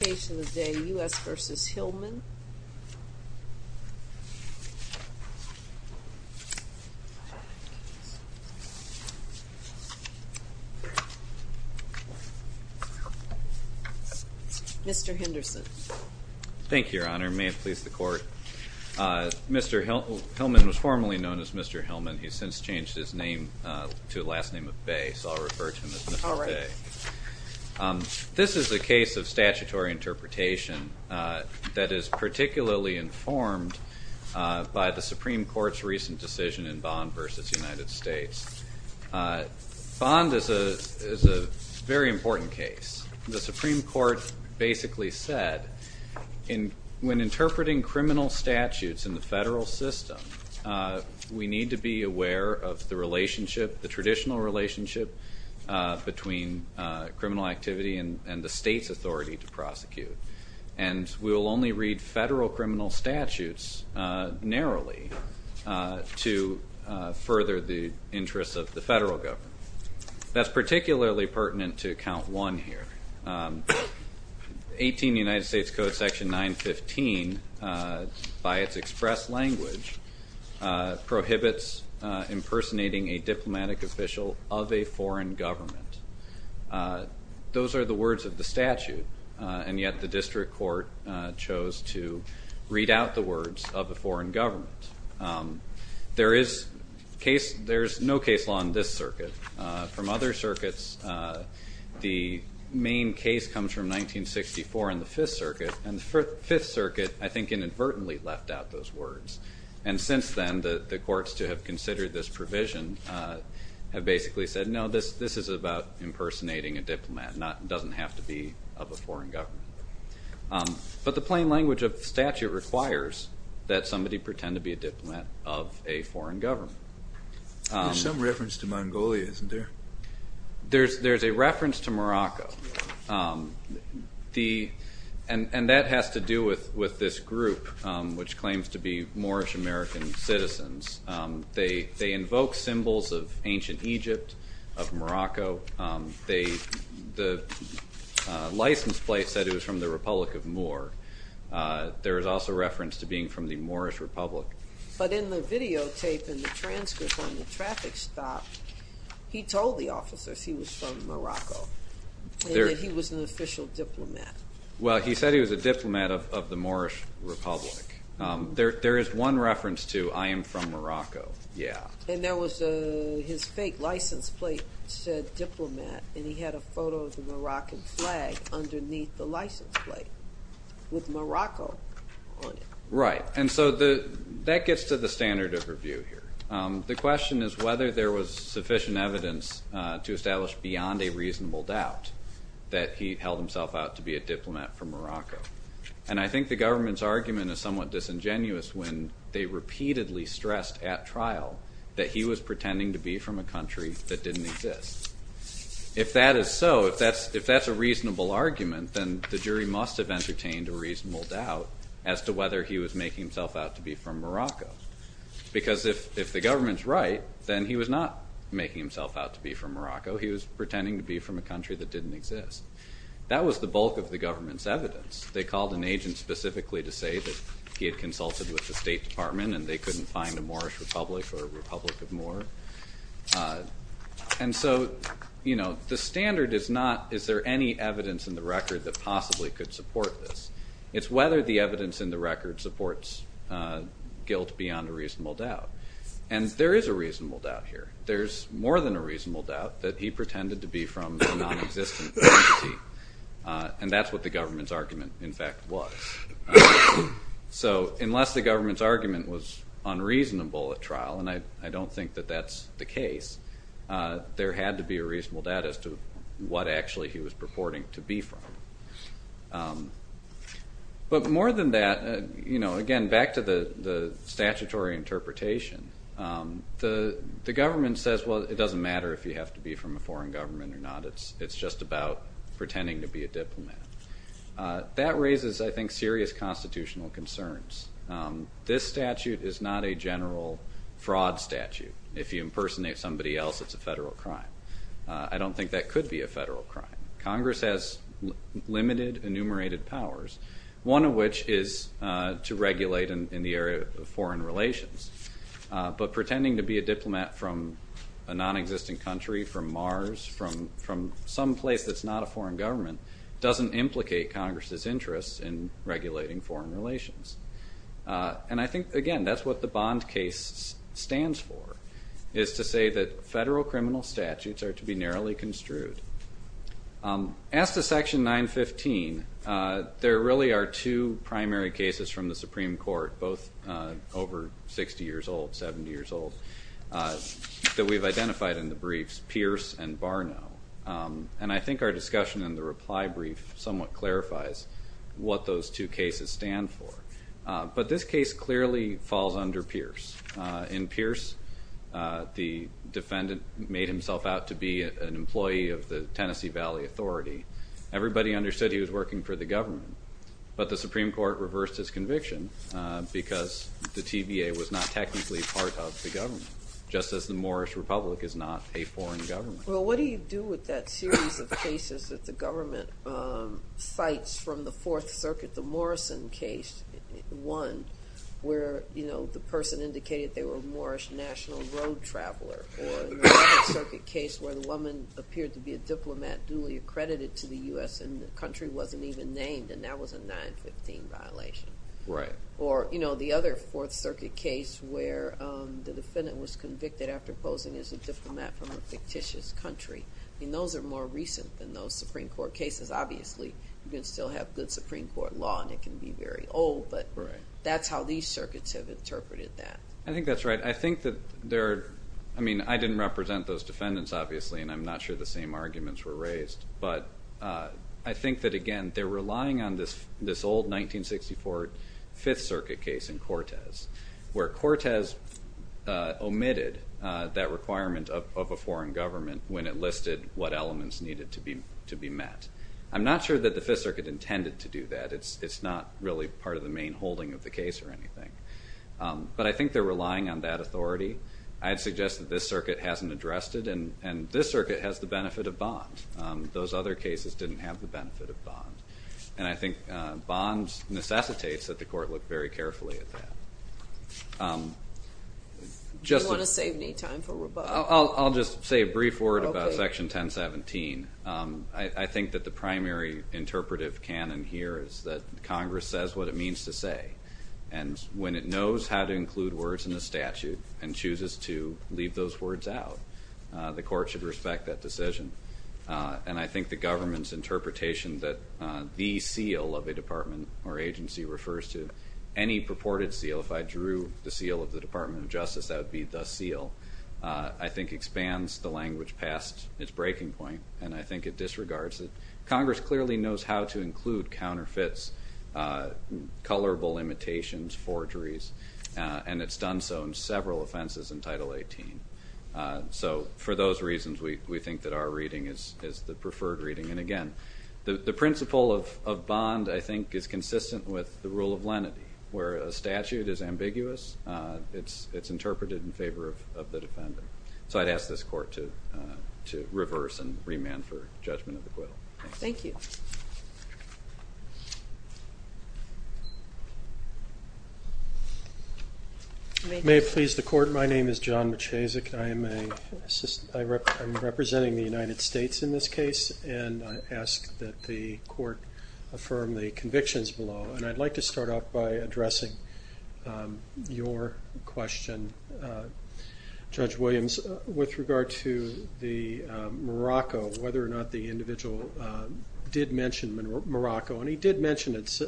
The case of the day, U.S. v. Hillman. Mr. Henderson. Thank you, Your Honor, and may it please the Court. Mr. Hillman was formerly known as Mr. Hillman. He's since changed his name to the last name of Bay, so I'll refer to him as Mr. Bay. This is a case of statutory interpretation that is particularly informed by the Supreme Court's recent decision in Bond v. United States. Bond is a very important case. The Supreme Court basically said, when interpreting criminal statutes in the federal system, we mean criminal activity and the state's authority to prosecute. And we will only read federal criminal statutes narrowly to further the interests of the federal government. That's particularly pertinent to Count 1 here. 18 United States Code Section 915, by its express language, prohibits impersonating a diplomatic official of a foreign government. Those are the words of the statute, and yet the district court chose to read out the words of a foreign government. There is no case law in this circuit. From other circuits, the main case comes from 1964 in the Fifth Circuit, and the Fifth Circuit, I think, inadvertently left out those words. And since then, the courts to have considered this provision have basically said, no, this is about impersonating a diplomat, it doesn't have to be of a foreign government. But the plain language of the statute requires that somebody pretend to be a diplomat of a foreign government. There's some reference to Mongolia, isn't there? There's a reference to Morocco. And that has to do with this group, which claims to be Moorish American citizens. They invoke symbols of ancient Egypt, of Morocco. The license plate said it was from the Republic of Moor. There is also reference to being from the Moorish Republic. But in the videotape and the transcript on the traffic stop, he told the officers he was from Morocco, and that he was an official diplomat. Well, he said he was a diplomat of the Moorish Republic. There is one reference to, I am from Morocco, yeah. And there was his fake license plate said diplomat, and he had a photo of the Moroccan flag underneath the license plate with Morocco on it. Right. And so that gets to the standard of review here. The question is whether there was sufficient evidence to establish beyond a reasonable doubt that he held himself out to be a diplomat from Morocco. And I think the government's argument is somewhat disingenuous when they repeatedly stressed at trial that he was pretending to be from a country that didn't exist. If that is so, if that's a reasonable argument, then the jury must have entertained a reasonable doubt as to whether he was making himself out to be from Morocco. Because if the government's right, then he was not making himself out to be from Morocco. He was pretending to be from a country that didn't exist. That was the bulk of the government's evidence. They called an agent specifically to say that he had consulted with the State Department and they couldn't find a Moorish Republic or a Republic of Moor. And so the standard is not, is there any evidence in the record that possibly could support this? It's whether the evidence in the record supports guilt beyond a reasonable doubt. And there is a reasonable doubt here. There's more than a reasonable doubt that he pretended to be from a non-existent entity. And that's what the government's argument, in fact, was. So unless the government's argument was unreasonable at trial, and I don't think that that's the case, there had to be a reasonable doubt as to what actually he was purporting to be from. But more than that, again, back to the statutory interpretation, the government says, well, it doesn't matter if you have to be from a foreign government or not. It's just about pretending to be a diplomat. That raises, I think, serious constitutional concerns. This statute is not a general fraud statute. If you impersonate somebody else, it's a federal crime. I don't think that could be a federal crime. Congress has limited, enumerated powers, one of which is to regulate in the area of foreign relations. But pretending to be a diplomat from a non-existent country, from Mars, from some place that's not a foreign government, doesn't implicate Congress's interest in regulating foreign relations. And I think, again, that's what the Bond case stands for, is to say that federal criminal statutes are to be narrowly construed. As to Section 915, there really are two primary cases from the Supreme Court, both over 60 years old, 70 years old, that we've identified in the briefs, Pierce and Barnow. And I think our discussion in the reply brief somewhat clarifies what those two cases stand for. But this case clearly falls under Pierce. In Pierce, the defendant made himself out to be an employee of the Tennessee Valley Authority. Everybody understood he was working for the government, but the Supreme Court reversed his conviction because the TBA was not technically part of the government, just as the Morris Republic is not a foreign government. Well, what do you do with that series of cases that the government cites from the Fourth Circuit that indicated they were a Morrish National Road Traveler, or the Fourth Circuit case where the woman appeared to be a diplomat duly accredited to the U.S. and the country wasn't even named, and that was a 915 violation. Or the other Fourth Circuit case where the defendant was convicted after posing as a diplomat from a fictitious country. Those are more recent than those Supreme Court cases. Obviously, you can still have good Supreme Court law and it can be very old, but that's how these circuits have interpreted that. I think that's right. I think that there are, I mean, I didn't represent those defendants, obviously, and I'm not sure the same arguments were raised, but I think that, again, they're relying on this old 1964 Fifth Circuit case in Cortes, where Cortes omitted that requirement of a foreign government when it listed what elements needed to be met. I'm not sure that the Fifth Circuit intended to do that. It's not really part of the main holding of the case or anything. But I think they're relying on that authority. I'd suggest that this circuit hasn't addressed it, and this circuit has the benefit of bond. Those other cases didn't have the benefit of bond. And I think bond necessitates that the court look very carefully at that. Do you want to save me time for rebuttal? I'll just say a brief word about Section 1017. I think that the primary interpretive canon here is that Congress says what it means to say, and when it knows how to include words in the statute and chooses to leave those words out, the court should respect that decision. And I think the government's interpretation that the seal of a department or agency refers to any purported seal, if I drew the seal of the Department of Justice, that would be the seal, I think expands the language past its breaking point, and I think it disregards it. Congress clearly knows how to include counterfeits, colorable imitations, forgeries, and it's done so in several offenses in Title 18. So for those reasons, we think that our reading is the preferred reading. And again, the principle of bond, I think, is consistent with the rule of lenity, where the statute is ambiguous, it's interpreted in favor of the defendant. So I'd ask this Court to reverse and remand for judgment of acquittal. Thank you. May it please the Court, my name is John Machacek, I am a, I'm representing the United States in this case, and I ask that the Court affirm the convictions below, and I'd like to start out by addressing your question, Judge Williams, with regard to the Morocco, whether or not the individual did mention Morocco, and he did mention it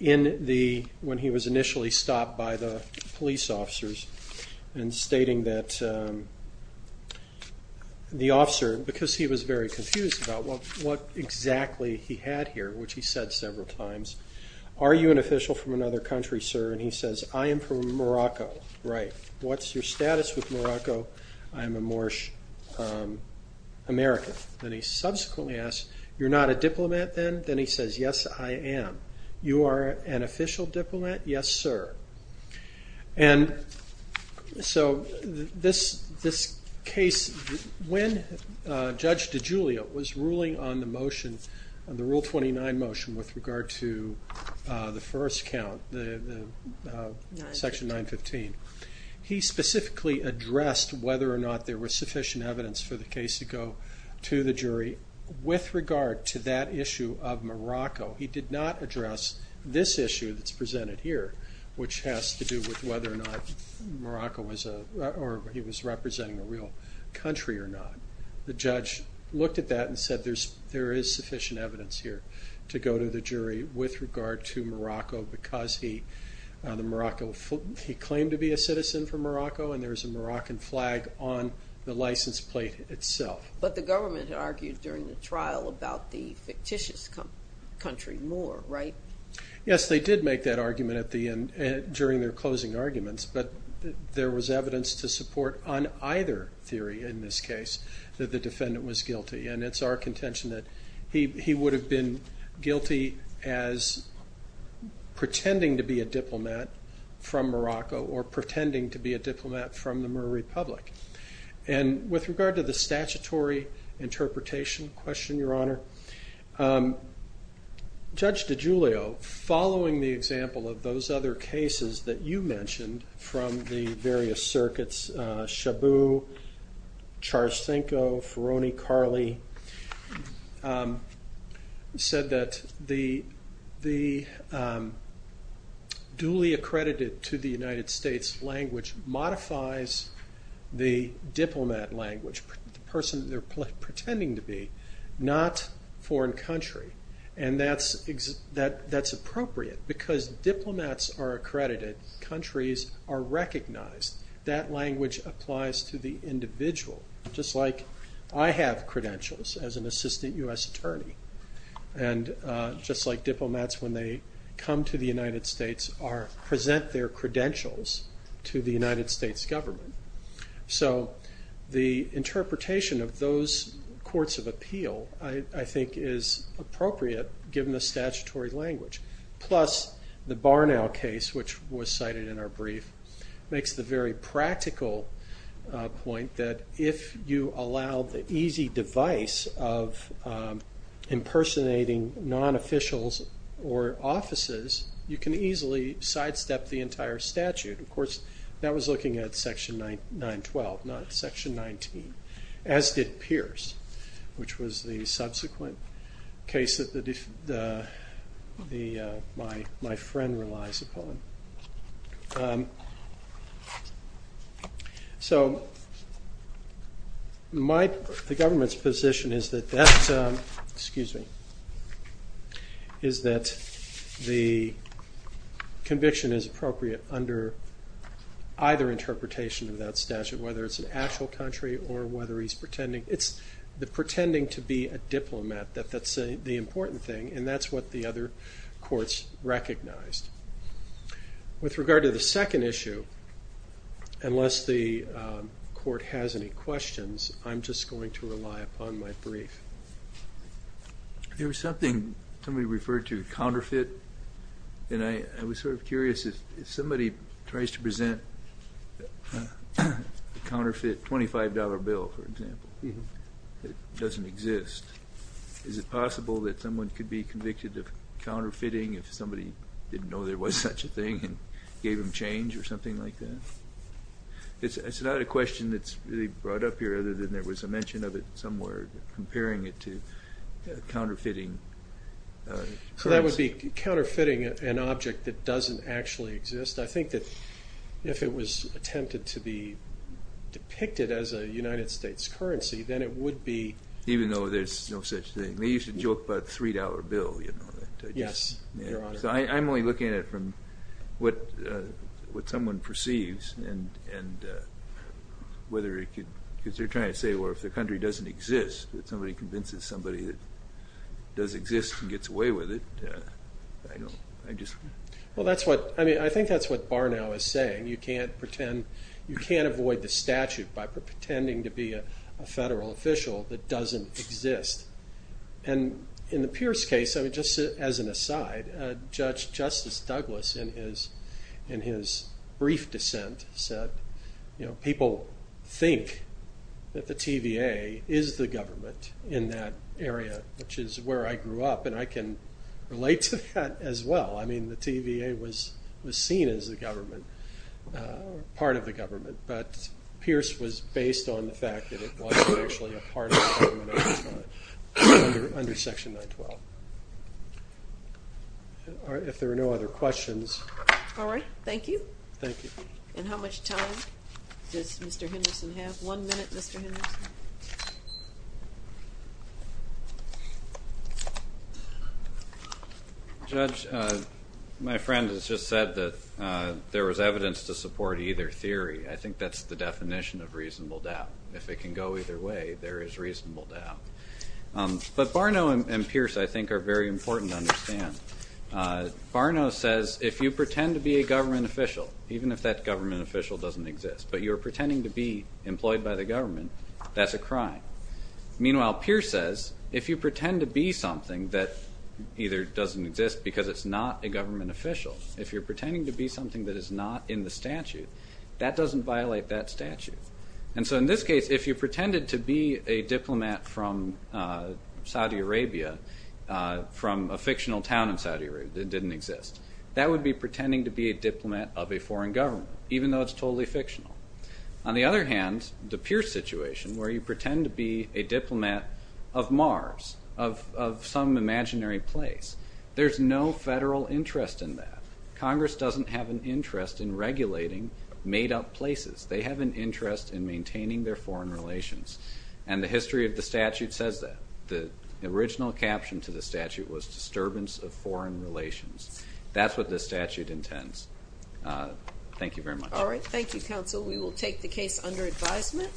in the, when he was initially stopped by the police officers, and stating that the officer, because he was very confused about what exactly he had here, which he said several times, are you an official from another country, sir, and he says, I am from Morocco, right, what's your status with Morocco, I'm a Moorish American, and he subsequently asks, you're not a diplomat then, then he says, yes I am, you are an official diplomat, yes sir, and so this case, when Judge DiGiulio was ruling on the motion, the Rule 29 motion, with regard to the first count, Section 915, he specifically addressed whether or not there was sufficient evidence for the case to go to the jury, with regard to that issue of Morocco, he did not address this issue that's presented here, which has to do with whether or not Morocco was a, or he was representing a real country or not, the judge looked at that and said there is sufficient evidence here to go to the jury with regard to Morocco, because he, the Morocco, he claimed to be a citizen from Morocco, and there is a Moroccan flag on the license plate itself. But the government argued during the trial about the fictitious country more, right? Yes, they did make that argument at the end, during their closing arguments, but there was evidence to support on either theory in this case, that the defendant was guilty, and it's our contention that he would have been guilty as pretending to be a diplomat from Morocco, or pretending to be a diplomat from the Moor Republic. And with regard to the statutory interpretation question, Your Honor, Judge DiGiulio, following the example of those other cases that you mentioned, from the various circuits, Shabu, Charsthenko, Ferroni-Carli, said that the duly accredited to the United States language modifies the diplomat language, the person they're pretending to be, not foreign country, and that's appropriate, because diplomats are accredited, countries are recognized, that language applies to the individual, just like I have credentials as an assistant U.S. attorney, and just like diplomats when they come to the United States present their credentials to the United States government. So the interpretation of those courts of appeal, I think, is appropriate, given the statutory language, plus the Barnow case, which was cited in our brief, makes the very practical point that if you allow the easy device of impersonating non-officials or offices, you can easily sidestep the entire statute. Of course, that was looking at section 912, not section 19, as did Pierce, which was the subsequent case that my friend relies upon. So, the government's position is that the conviction is appropriate under either interpretation of that statute, whether it's an actual country or whether he's pretending. It's the pretending to be a diplomat that's the important thing, and that's what the other courts recognized. With regard to the second issue, unless the court has any questions, I'm just going to rely upon my brief. There was something, somebody referred to counterfeit, and I was sort of curious, if somebody tries to present a counterfeit $25 bill, for example, that doesn't exist, is it possible that someone could be convicted of counterfeiting if somebody didn't know there was such a thing and gave them change or something like that? It's not a question that's really brought up here, other than there was a mention of it somewhere, comparing it to counterfeiting. So that would be counterfeiting an object that doesn't actually exist. I think that if it was attempted to be depicted as a United States currency, then it would be... Even though there's no such thing. They used to joke about the $3 bill. Yes, Your Honor. So I'm only looking at it from what someone perceives, and whether it could, because they're trying to say, well, if the country doesn't exist, if somebody convinces somebody that does exist and gets away with it, I don't, I just... Well that's what, I mean, I think that's what Barnow is saying. You can't pretend, you can't avoid the statute by pretending to be a federal official that doesn't exist. And in the Pierce case, I mean, just as an aside, Judge Justice Douglas in his brief dissent said, you know, people think that the TVA is the government in that area, which is where I grew up, and I can relate to that as well. I mean, the TVA was seen as the government, part of the government, but Pierce was based on the fact that it wasn't actually a part of the government at the time, under Section 912. All right, if there are no other questions... All right, thank you. Thank you. And how much time does Mr. Henderson have? One minute, Mr. Henderson. Judge, my friend has just said that there was evidence to support either theory. I think that's the definition of reasonable doubt. If it can go either way, there is reasonable doubt. But Barnow and Pierce, I think, are very important to understand. Barnow says if you pretend to be a government official, even if that government official doesn't exist, but you're pretending to be employed by the government, that's a crime. Meanwhile Pierce says if you pretend to be something that either doesn't exist because it's not a government official, if you're pretending to be something that is not in the statute, that doesn't violate that statute. And so in this case, if you pretended to be a diplomat from Saudi Arabia, from a fictional town in Saudi Arabia that didn't exist, that would be pretending to be a diplomat of a totally fictional. On the other hand, the Pierce situation, where you pretend to be a diplomat of Mars, of some imaginary place, there's no federal interest in that. Congress doesn't have an interest in regulating made-up places. They have an interest in maintaining their foreign relations. And the history of the statute says that. The original caption to the statute was, Disturbance of Foreign Relations. That's what this statute intends. Thank you very much. All right. Thank you, Counsel. We will take the case under advisement.